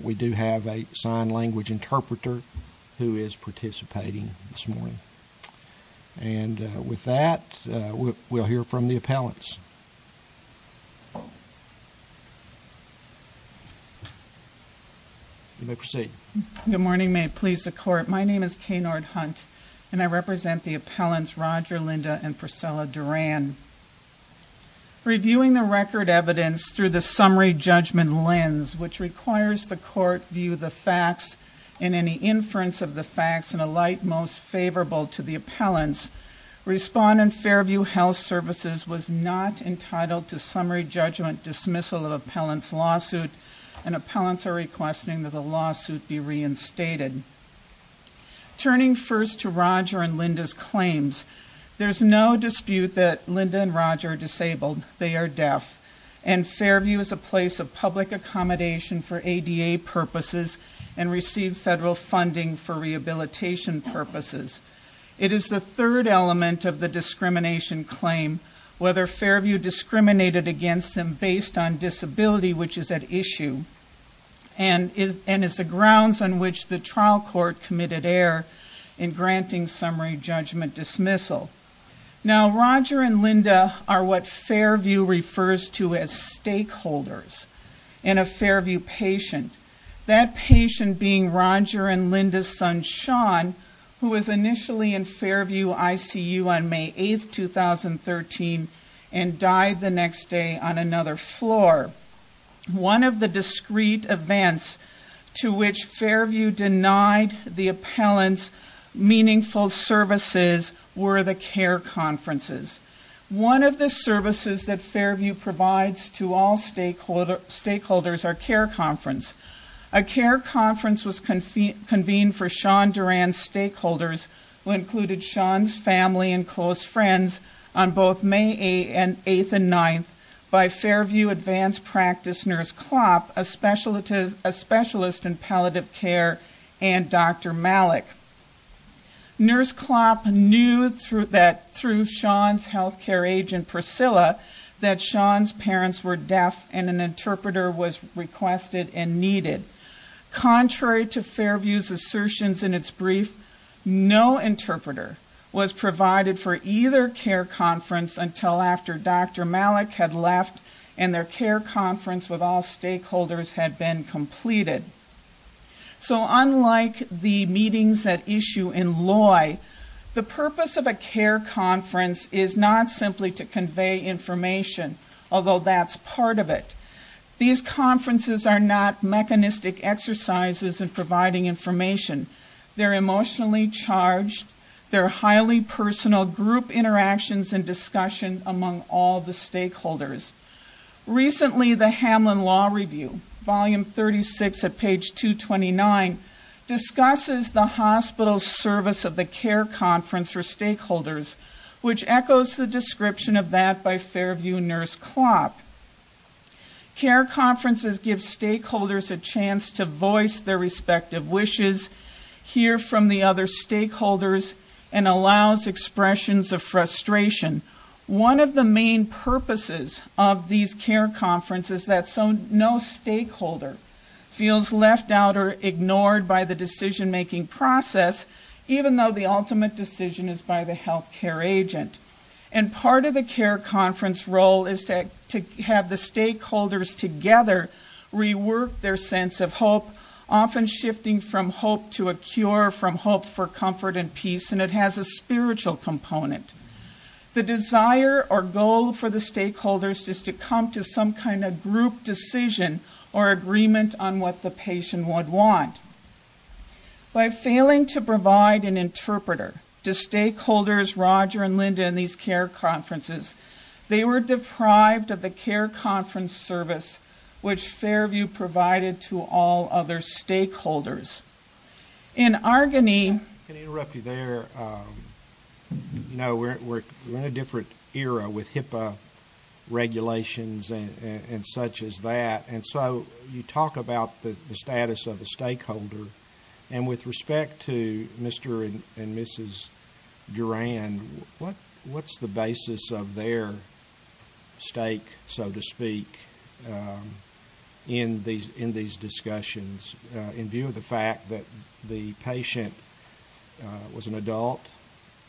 We do have a sign language interpreter who is participating this morning and with that we'll hear from the appellants. You may proceed. Good morning, may it please the court. My name is Kenard Hunt and I represent the appellants Roger, Linda, and Priscilla Durand. Reviewing the record evidence through the summary judgment lens which requires the court view the facts and any inference of the facts in a light most favorable to the appellants, respondent Fairview Health Services was not entitled to summary judgment dismissal of appellant's lawsuit and appellants are requesting that the lawsuit be reinstated. Turning first to Roger and Linda's Roger are disabled, they are deaf and Fairview is a place of public accommodation for ADA purposes and receive federal funding for rehabilitation purposes. It is the third element of the discrimination claim whether Fairview discriminated against them based on disability which is at issue and is and is the grounds on which the trial court committed error in granting summary judgment dismissal. Now Roger and Linda are what Fairview refers to as stakeholders in a Fairview patient. That patient being Roger and Linda's son Sean who was initially in Fairview ICU on May 8, 2013 and died the next day on another floor. One of the discrete events to which Fairview denied the appellants meaningful services were the care conferences. One of the services that Fairview provides to all stakeholders are care conference. A care conference was convened for Sean Duran's stakeholders who included Sean's family and close friends on both May 8th and 9th by Fairview advanced practice nurse Klopp, a specialist in palliative care and Dr. Malik. Nurse Klopp knew that through Sean's health care agent Priscilla that Sean's parents were deaf and an interpreter was requested and needed. Contrary to Fairview's assertions in its no interpreter was provided for either care conference until after Dr. Malik had left and their care conference with all stakeholders had been completed. So unlike the meetings at issue in Loy, the purpose of a care conference is not simply to convey information although that's part of it. These conferences are not mechanistic exercises in providing information. They're emotionally charged. They're highly personal group interactions and discussion among all the stakeholders. Recently the Hamlin Law Review volume 36 at page 229 discusses the hospital's service of the care conference for stakeholders which echoes the description of that by Fairview nurse Klopp. Care conferences give stakeholders a chance to voice their respective wishes, hear from the other stakeholders and allows expressions of frustration. One of the main purposes of these care conferences that so no stakeholder feels left out or ignored by the decision-making process even though the ultimate decision is by the health care agent. And part of the care conference role is to have the stakeholders together rework their sense of hope often shifting from hope to a cure from hope for comfort and peace and it has a spiritual component. The desire or goal for the stakeholders is to come to some kind of group decision or agreement on what the patient would want. By failing to provide an interpreter to Linda in these care conferences, they were deprived of the care conference service which Fairview provided to all other stakeholders. In Argonne... Can I interrupt you there? You know we're in a different era with HIPAA regulations and such as that and so you talk about the status of the stakeholder and with respect to Mr. and Mrs. Duran, what's the basis of their stake so to speak in these discussions in view of the fact that the patient was an adult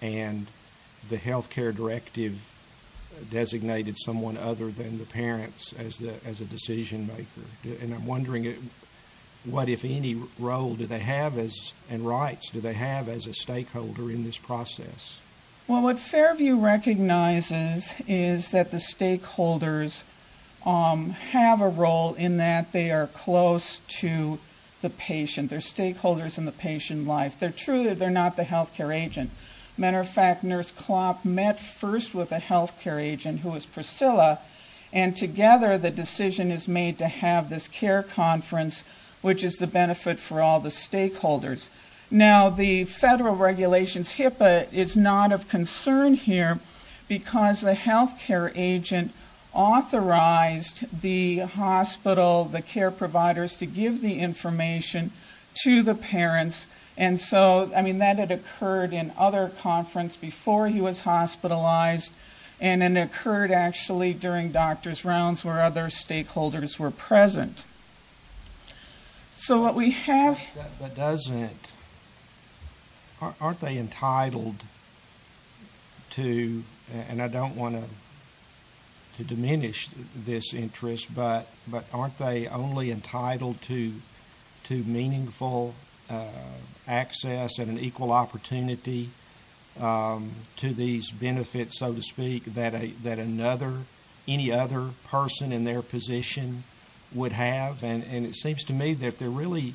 and the health care directive designated someone other than the parents as the as a decision maker? And I'm wondering what if any role do they have as and rights do they have as a stakeholder in this process? Well what Fairview recognizes is that the stakeholders have a role in that they are close to the patient. They're stakeholders in the patient life. They're truly they're not the health care agent. Matter of fact, Nurse Klopp met first with a health care agent who is Priscilla and together the decision is made to have this care conference which is the benefit for all the stakeholders. Now the federal regulations HIPAA is not of concern here because the health care agent authorized the hospital, the care providers to give the information to the during doctor's rounds where other stakeholders were present. So what we have that doesn't aren't they entitled to and I don't want to diminish this interest but aren't they only entitled to meaningful access and an equal opportunity to these benefits so to speak that a that another any other person in their position would have and and it seems to me that they're really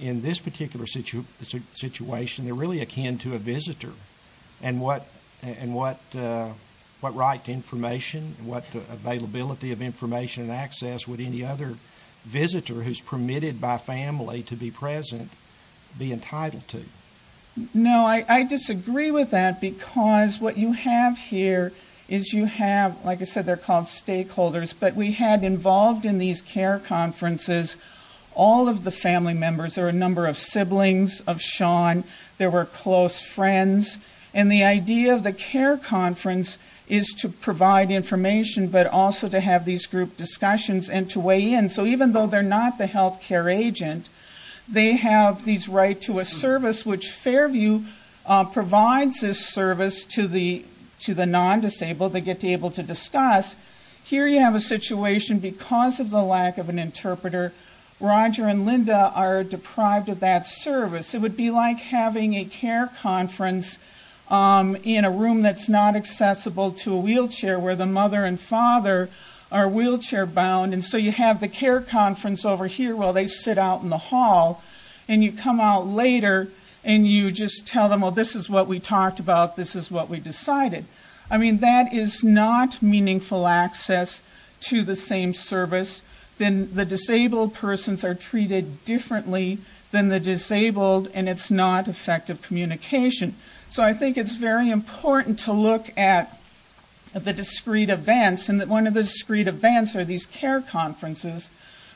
in this particular situation they're really akin to a visitor and what and what what right to information and what availability of information and access would any other visitor who's permitted by family to be present be entitled to? No, I disagree with that because what you have here is you have like I said they're called stakeholders but we had involved in these care conferences all of the family members there are a number of siblings of Sean there were close friends and the idea of the care conference is to provide information but also to have these group discussions and to weigh in so even though they're not the health care agent they have these right to a service which Fairview provides this service to the to the non-disabled they get to able to discuss here you have a situation because of the lack of an interpreter Roger and Linda are deprived of that service it would be like having a care conference in a room that's not accessible to a wheelchair where the mother and father are wheelchair bound and so you have the care conference over here while they sit out in the hall and you come out later and you just tell them well this is what we talked about this is what we decided I mean that is not meaningful access to the same service then the disabled persons are treated differently than the disabled and it's not effective communication so I think it's very important to look at the discrete events and that one of the discrete events are these care conferences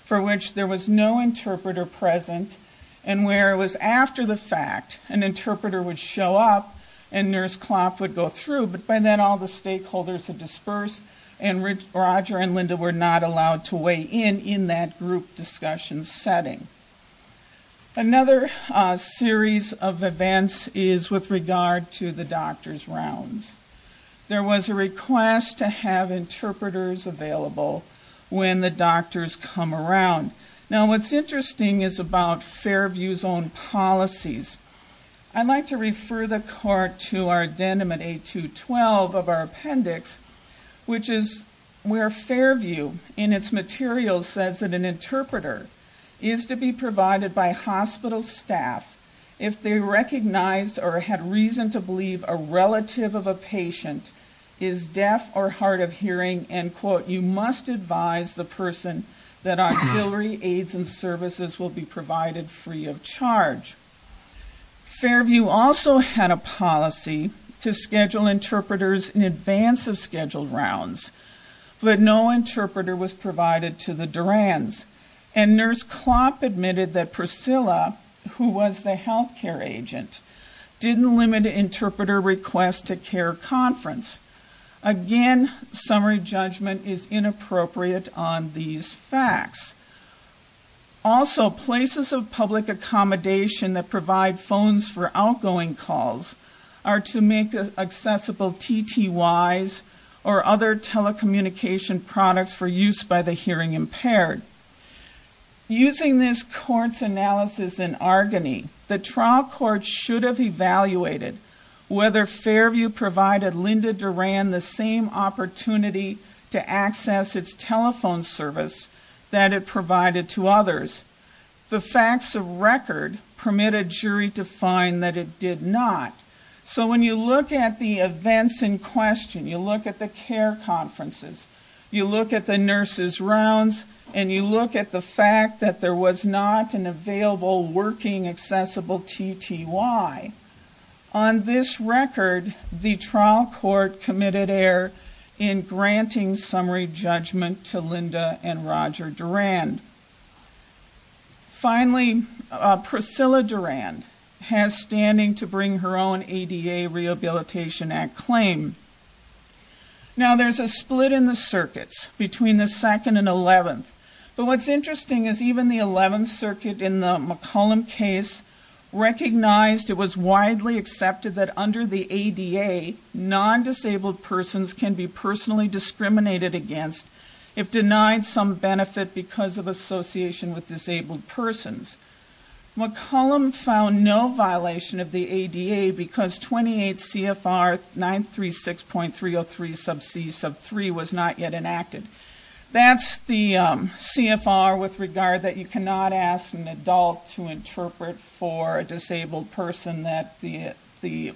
for which there was no interpreter present and where it was after the fact an interpreter would show up and nurse Klopp would go through but by then all the stakeholders had dispersed and Roger and Linda were not allowed to weigh in in that group discussion setting another series of events is with regard to the doctor's rounds there was a request to have interpreters available when the doctors come around now what's interesting is about Fairview's own policies I'd like to refer the court to our addendum at 8212 of our appendix which is where Fairview in its materials says that an interpreter is to be provided by hospital staff if they recognized or had reason to believe a relative of a patient is deaf or hard of hearing and quote you must advise the person that auxiliary aids and services will be provided free of charge Fairview also had a policy to schedule interpreters in advance of scheduled rounds but no interpreter was provided to the Duran's and nurse Klopp admitted that Priscilla who was the health care agent didn't limit interpreter requests to care conference again summary judgment is inappropriate on these facts also places of public accommodation that provide phones for outgoing calls are to make accessible TTYs or other telecommunication products for use by the hearing impaired using this court's analysis in Argony the trial court should have evaluated whether Fairview provided Linda Duran the same opportunity to access its telephone service that it provided to others the facts of record permitted jury to find that it did not so when you look at the events in question you look at the care conferences you look at the nurses rounds and you look at the fact that there was not an available working accessible TTY on this record the trial court committed error in granting summary judgment to Linda and Roger Duran finally Priscilla Duran has standing to bring her own ADA Rehabilitation Act claim now there's a split in the circuits between the 2nd and 11th but what's interesting is even the widely accepted that under the ADA non-disabled persons can be personally discriminated against if denied some benefit because of association with disabled persons McCollum found no violation of the ADA because 28 CFR 936.303 sub c sub 3 was not yet enacted that's the um CFR with regard that you cannot ask an adult to interpret for a disabled person that the the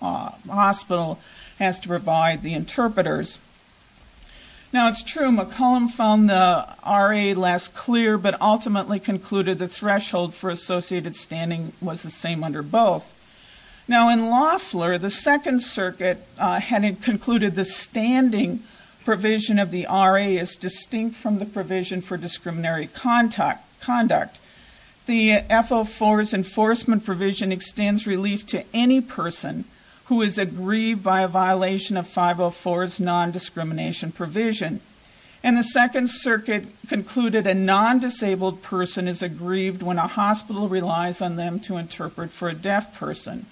hospital has to provide the interpreters now it's true McCollum found the RA less clear but ultimately concluded the threshold for associated standing was the same under both now in Loeffler the 2nd circuit had concluded the standing provision of the RA is distinct from the provision for discriminatory contact conduct the FO4's enforcement provision extends relief to any person who is aggrieved by a violation of 504's non-discrimination provision and the 2nd circuit concluded a non-disabled person is aggrieved when a hospital relies on them to interpret for a deaf person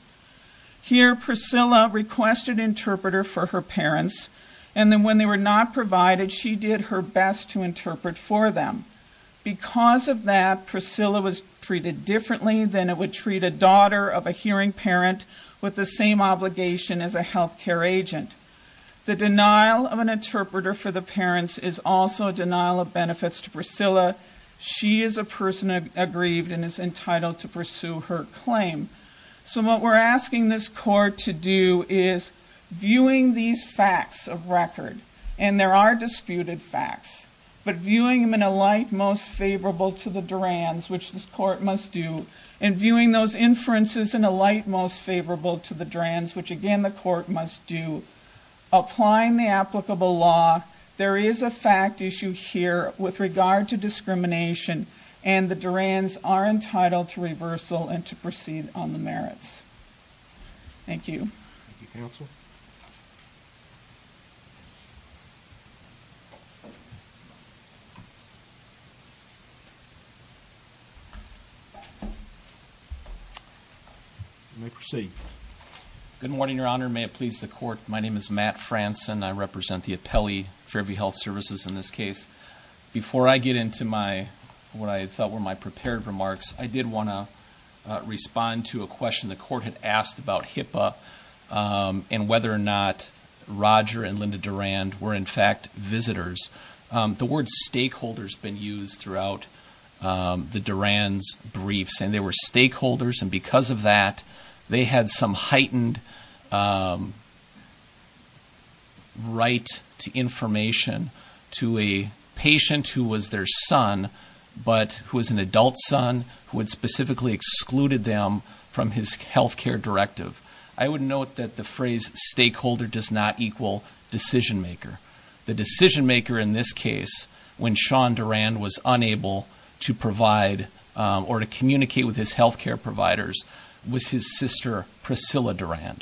here Priscilla requested interpreter for her parents and then when they were not provided she did her best to interpret for them because of that Priscilla was treated differently than it would treat a daughter of a hearing parent with the same obligation as a health care agent the denial of an interpreter for the parents is also a denial of benefits to Priscilla she is a person aggrieved and is entitled to pursue her claim so what we're asking this court to do is viewing these facts of record and there are disputed facts but viewing them in a light most favorable to the Duran's which this court must do and viewing those inferences in a light most favorable to the Duran's which again the court must do applying the applicable law there is a fact issue here with regard to discrimination and the Duran's are entitled to reversal and to proceed on the merits thank you thank you counsel you may proceed good morning your honor may it please the court my name is Matt Franson I represent the appellee for every health services in this case before I get into my what I thought were my prepared remarks I did want to respond to a question the court had asked about HIPAA and whether or not Roger and Linda Duran were in fact visitors the word stakeholders been used throughout the Duran's briefs and they were stakeholders and because of that they had some heightened right to information to a patient who was their son but who was an adult son who had excluded them from his health care directive I would note that the phrase stakeholder does not equal decision maker the decision maker in this case when Sean Duran was unable to provide or to communicate with his health care providers was his sister Priscilla Duran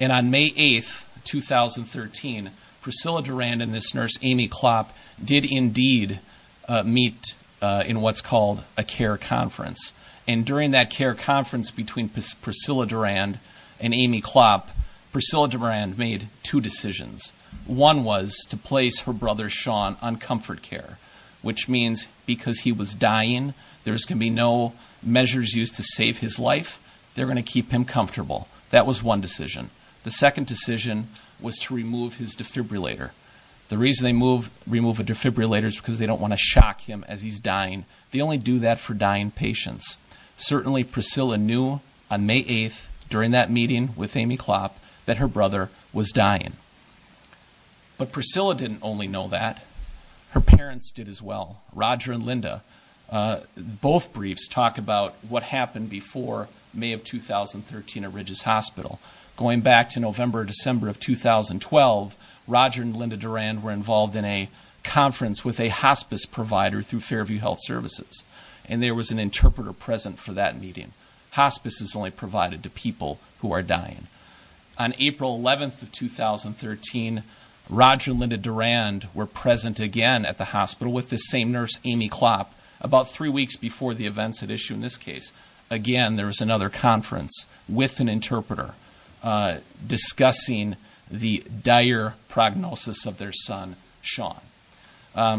and on May 8th 2013 Priscilla Duran and this nurse Amy Klopp did indeed meet in what's called a care conference and during that care conference between Priscilla Duran and Amy Klopp Priscilla Duran made two decisions one was to place her brother Sean on comfort care which means because he was dying there's gonna be no measures used to save his life they're gonna keep him comfortable that was one decision the second decision was to remove his defibrillator the reason they move remove a defibrillator is because they don't want to shock him as he's dying they only do that for dying patients certainly Priscilla knew on May 8th during that meeting with Amy Klopp that her brother was dying but Priscilla didn't only know that her parents did as well Roger and Linda both briefs talk about what happened before May of 2013 at Ridges Hospital going back to November December of 2012 Roger and Linda Duran were involved in a conference with a hospice provider through Fairview Health Services and there was an interpreter present for that meeting hospice is only provided to people who are dying on April 11th of 2013 Roger and Linda Duran were present again at the hospital with the same nurse Amy Klopp about three weeks before the events had issued in this case again there was another conference with an interpreter discussing the dire prognosis of their son Sean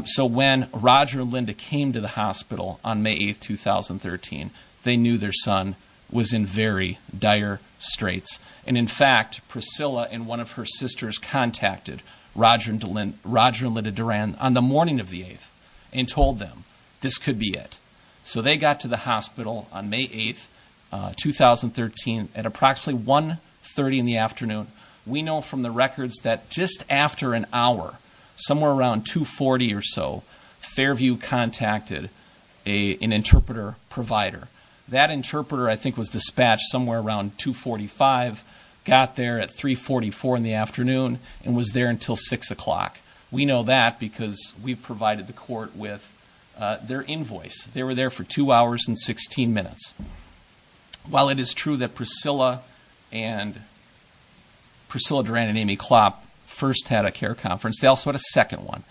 so when Roger and Linda came to the hospital on May 8th 2013 they knew their son was in very dire straits and in fact Priscilla and one of her sisters contacted Roger and Linda Duran on the morning of the 8th and told them this could be it so they got to the hospital on May 8th at approximately 1 30 in the afternoon we know from the records that just after an hour somewhere around 2 40 or so Fairview contacted a an interpreter provider that interpreter I think was dispatched somewhere around 2 45 got there at 3 44 in the afternoon and was there until six o'clock we know that because we provided the court with their invoice they were there for two hours and 16 minutes while it is true that Priscilla and Priscilla Duran and Amy Klopp first had a care conference they also had a second one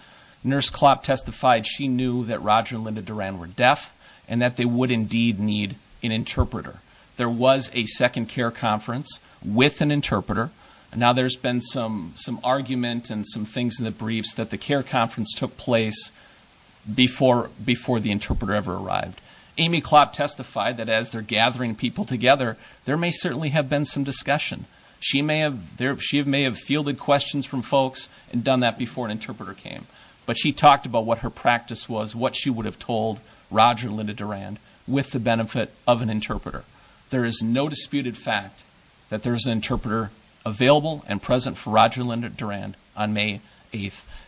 nurse Klopp testified she knew that Roger and Linda Duran were deaf and that they would indeed need an interpreter there was a second care conference with an interpreter now there's been some some argument and some things in the briefs the care conference took place before before the interpreter ever arrived Amy Klopp testified that as they're gathering people together there may certainly have been some discussion she may have there she may have fielded questions from folks and done that before an interpreter came but she talked about what her practice was what she would have told Roger Linda Duran with the benefit of an interpreter there is no disputed fact that there's an interpreter available and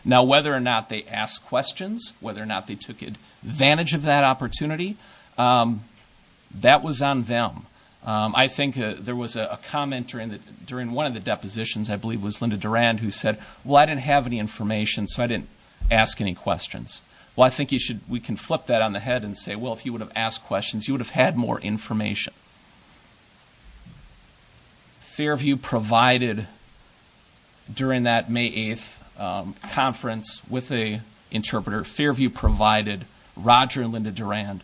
now whether or not they ask questions whether or not they took advantage of that opportunity that was on them I think there was a comment during that during one of the depositions I believe was Linda Duran who said well I didn't have any information so I didn't ask any questions well I think you should we can flip that on the head and say well if you would have asked you would have had more information Fairview provided during that May 8th conference with a interpreter Fairview provided Roger and Linda Duran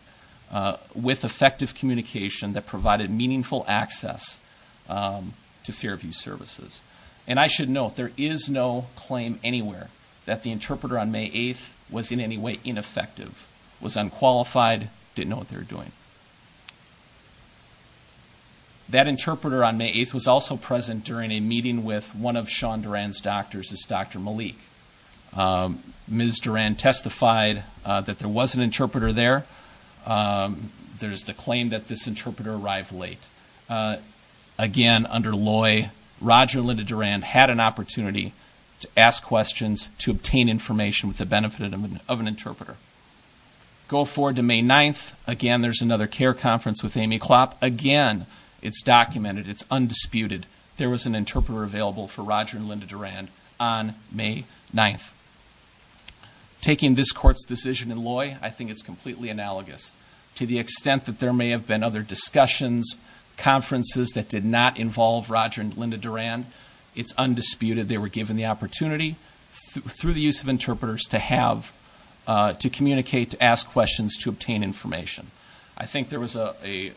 with effective communication that provided meaningful access to Fairview services and I should note there is no claim anywhere that the interpreter on May 8th was in any way ineffective was unqualified didn't know what they were doing that interpreter on May 8th was also present during a meeting with one of Sean Duran's doctors as Dr. Malik. Ms. Duran testified that there was an interpreter there there's the claim that this interpreter arrived late again under Loy Roger Linda Duran had an Go forward to May 9th again there's another CARE conference with Amy Klopp again it's documented it's undisputed there was an interpreter available for Roger and Linda Duran on May 9th taking this court's decision in Loy I think it's completely analogous to the extent that there may have been other discussions conferences that did not involve Roger and Linda Duran it's undisputed they were asked questions to obtain information I think there was a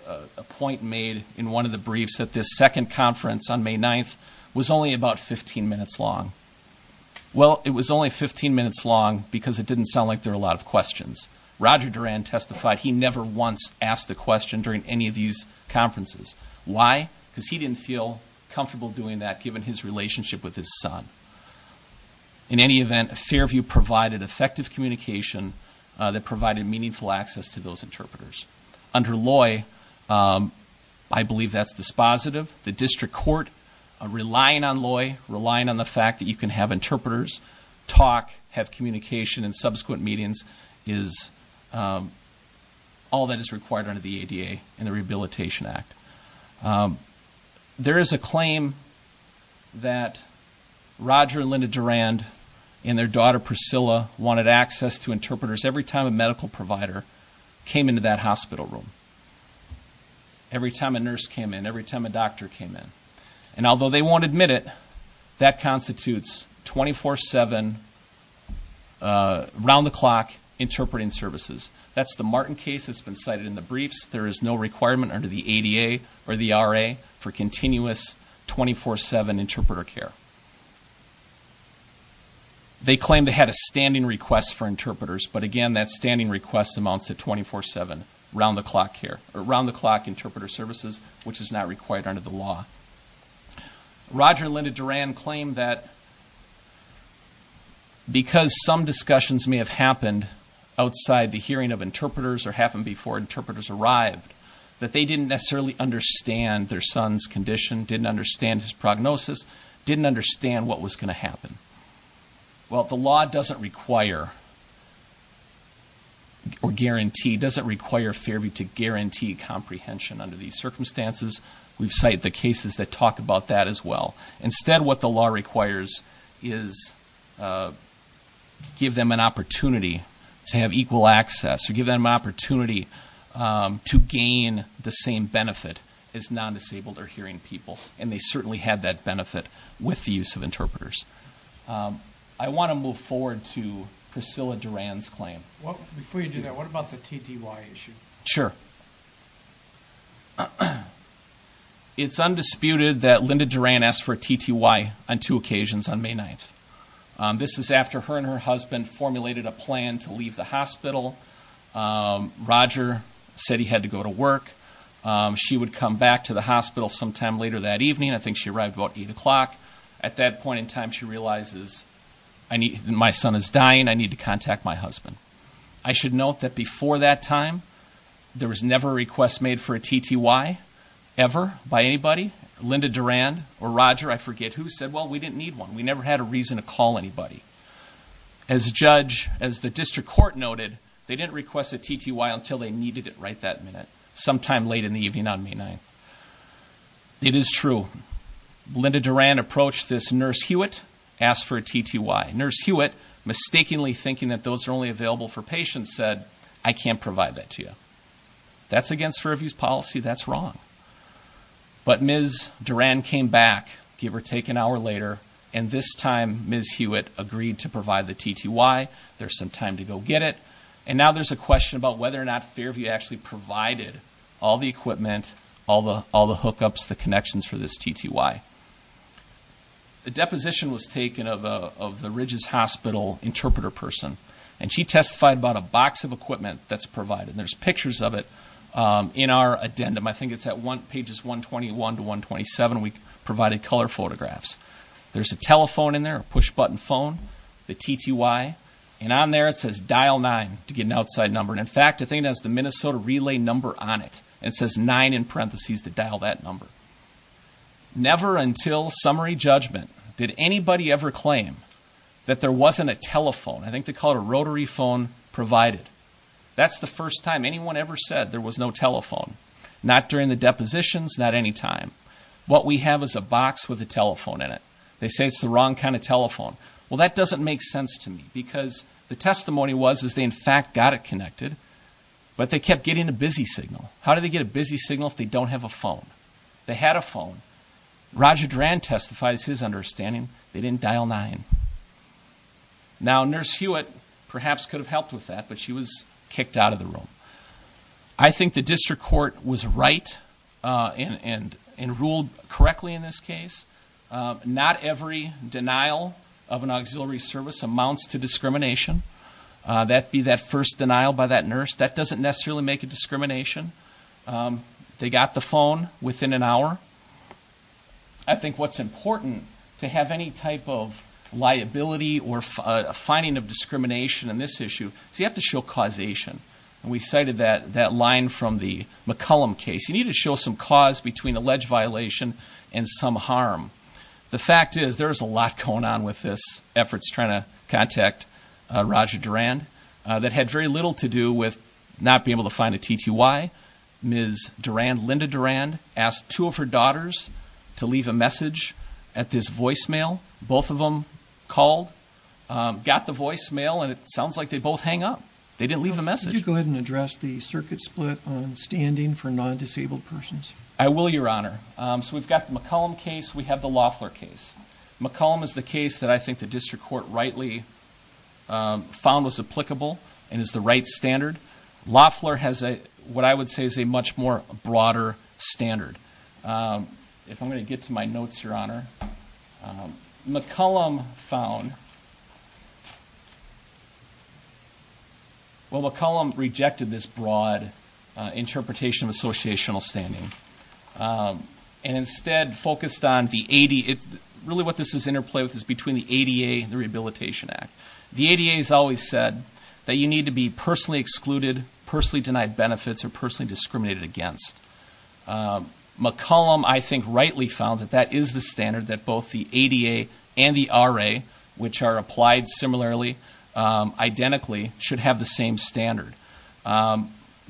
point made in one of the briefs that this second conference on May 9th was only about 15 minutes long well it was only 15 minutes long because it didn't sound like there are a lot of questions Roger Duran testified he never once asked the question during any of these conferences why because he didn't feel comfortable doing that with his son in any event Fairview provided effective communication that provided meaningful access to those interpreters under Loy I believe that's dispositive the district court relying on Loy relying on the fact that you can have interpreters talk have communication in subsequent meetings is all that is required under the ADA and the Rehabilitation Act um there is a claim that Roger and Linda Duran and their daughter Priscilla wanted access to interpreters every time a medical provider came into that hospital room every time a nurse came in every time a doctor came in and although they won't admit it that constitutes 24-7 round-the-clock interpreting services that's the Martin case that's been cited in the briefs there is no requirement under the ADA or the RA for continuous 24-7 interpreter care they claim they had a standing request for interpreters but again that standing request amounts to 24-7 round-the-clock care around-the-clock interpreter services which is not required under the law Roger and Linda Duran claim that because some discussions may have happened outside the hearing of interpreters or happen before interpreters arrived that they didn't necessarily understand their son's condition didn't understand his prognosis didn't understand what was going to happen well the law doesn't require or guarantee doesn't require Fairview to guarantee comprehension under these circumstances we've cited the cases that talk about that as well instead what the law requires is uh give them an opportunity to have equal access or give them an opportunity to gain the same benefit as non-disabled or hearing people and they certainly had that benefit with the use of interpreters I want to move forward to Priscilla Duran's claim what before you do that what about the TTY issue sure it's undisputed that Linda Duran asked for a TTY on two occasions on May 9th this is after her and her husband formulated a plan to leave the hospital Roger said he had to go to work she would come back to the hospital sometime later that evening I think she arrived about eight o'clock at that point in time she realizes I need my son is dying I need to contact my husband I should note that before that time there was never a request made for a TTY ever by anybody Linda Duran or Roger I forget who said well we didn't need one we never had a reason to call anybody as judge as the district court noted they didn't request a TTY until they needed it right that minute sometime late in the evening on May 9th it is true Linda Duran approached this nurse Hewitt asked for a TTY nurse Hewitt mistakenly thinking that those are only available for patients said I can't provide that to you that's against Fairview's policy that's wrong but Ms. Duran came back give or take an hour later and this time Ms. Hewitt agreed to provide the TTY there's some time to go get it and now there's a question about whether or actually provided all the equipment all the hookups the connections for this TTY the deposition was taken of the Ridges Hospital interpreter person and she testified about a box of equipment that's provided there's pictures of it in our addendum I think it's at one pages 121 to 127 we provided color photographs there's a telephone in there a push button phone the TTY and on there it says dial 9 to get an outside number and in fact I think that's the Minnesota relay number on it it says 9 in parentheses to dial that number never until summary judgment did anybody ever claim that there wasn't a telephone I think they call it a rotary phone provided that's the first time anyone ever said there was no telephone not during the depositions not anytime what we have is a box with a telephone in it they say it's the wrong kind of telephone well that doesn't make sense to me because the testimony was is they in fact got it connected but they kept getting a busy signal how do they get a busy signal if they don't have a phone they had a phone Roger Duran testifies his understanding they didn't dial nine now nurse Hewitt perhaps could have helped with that but she was kicked out of the room I think the district court was right and and and ruled correctly in this case not every denial of an auxiliary service amounts to discrimination that be that first denial by that nurse that doesn't necessarily make a discrimination they got the phone within an hour I think what's important to have any type of liability or a finding of discrimination in this issue so you to show causation we cited that that line from the McCollum case you need to show some cause between alleged violation and some harm the fact is there's a lot going on with this efforts trying to contact Roger Duran that had very little to do with not being able to find a TTY Ms. Duran Linda Duran asked two of her daughters to leave a message at this voicemail both of them called got the voicemail and it sounds like they both hang up they didn't leave the message you go ahead and address the circuit split on standing for non-disabled persons I will your honor so we've got the McCollum case we have the Loffler case McCollum is the case that I think the district court rightly found was applicable and is the right standard Loffler has a what I would say is a much more broader standard if I'm going to get to my notes your honor McCollum found well McCollum rejected this broad interpretation of associational standing and instead focused on the 80 it really what this is interplayed with is between the ADA and the Rehabilitation Act the ADA has always said that you need to be personally excluded personally denied benefits or personally discriminated against McCollum I think rightly found that is the standard that both the ADA and the RA which are applied similarly identically should have the same standard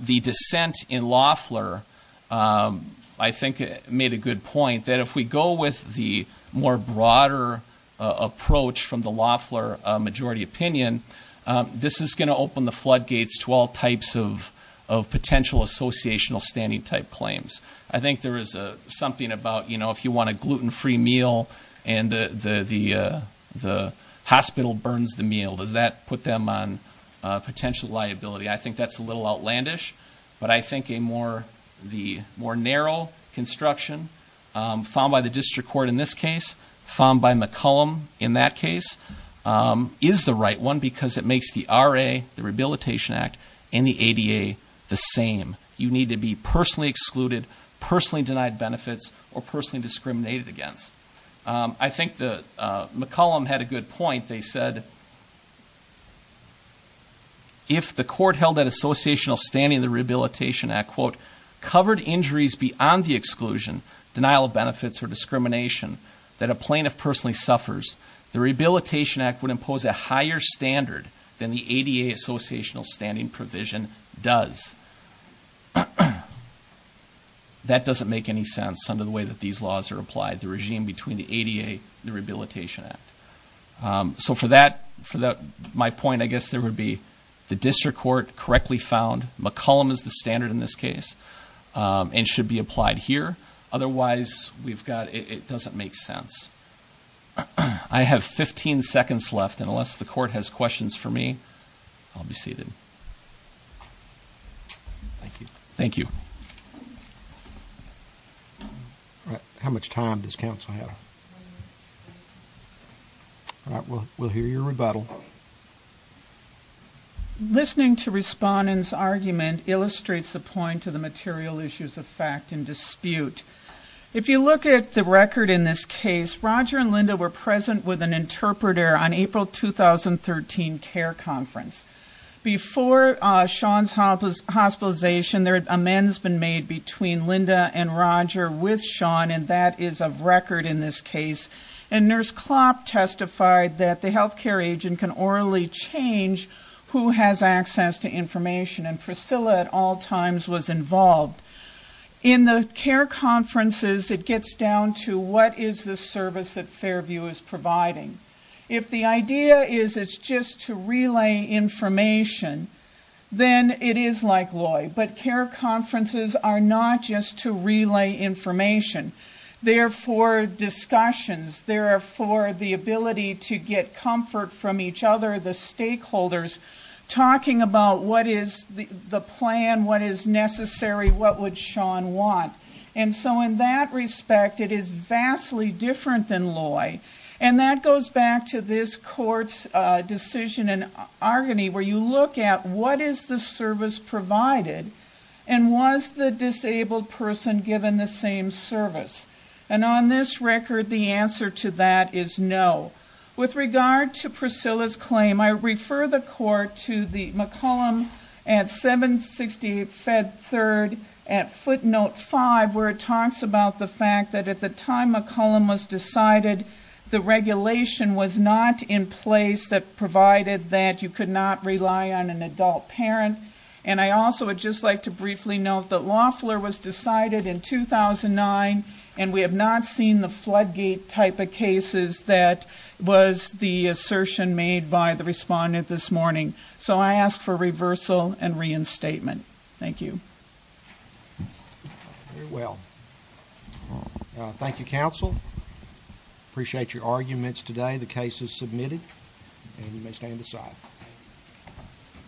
the dissent in Loffler I think made a good point that if we go with the more broader approach from the Loffler majority opinion this is going to open the flood gates to all types of of potential associational standing type claims I think there is a something about you know if you want a gluten-free meal and the the the hospital burns the meal does that put them on potential liability I think that's a little outlandish but I think a more the more narrow construction found by the district court in this case found by McCollum in that case is the right one because it makes the RA the Rehabilitation Act and the ADA the same you need to be personally excluded personally denied benefits or personally discriminated against I think the McCollum had a good point they said if the court held that associational standing the Rehabilitation Act quote covered injuries beyond the exclusion denial of benefits or discrimination that a plaintiff personally suffers the Rehabilitation Act would impose a higher standard than the ADA associational standing provision does that doesn't make any sense under the way that these laws are applied the regime between the ADA the Rehabilitation Act so for that for that my point I guess there would be the district court correctly found McCollum is the standard in this case and should be applied here otherwise we've got it doesn't make sense I have 15 seconds left and unless the court has questions for me I'll be seated thank you thank you all right how much time does counsel have all right we'll we'll hear your rebuttal listening to respondents argument illustrates the point to the material issues of fact and dispute if you look at the record in this case Roger and Linda were present with an interpreter on care conference before Sean's hospitalization there had amends been made between Linda and Roger with Sean and that is of record in this case and nurse Klopp testified that the health care agent can orally change who has access to information and Priscilla at all times was involved in the care conferences it gets down to what is the service that Fairview is providing if the idea is it's just to relay information then it is like Loy but care conferences are not just to relay information therefore discussions there are for the ability to get comfort from each other the stakeholders talking about what is the plan what is necessary what would Sean want and so in that respect it is vastly different than Loy and that goes back to this court's decision in Argany where you look at what is the service provided and was the disabled person given the same service and on this record the answer to that is no with regard to Priscilla's claim I refer the court to the McCollum at 760 Fed third at footnote five where it talks about the fact that at the time McCollum was decided the regulation was not in place that provided that you could not rely on an adult parent and I also would just like to briefly note that Loeffler was decided in 2009 and we have not seen the floodgate type of cases that was the assertion made by the respondent this morning so I ask for reversal and reinstatement thank you very well thank you counsel appreciate your arguments today the case is submitted and you may stand aside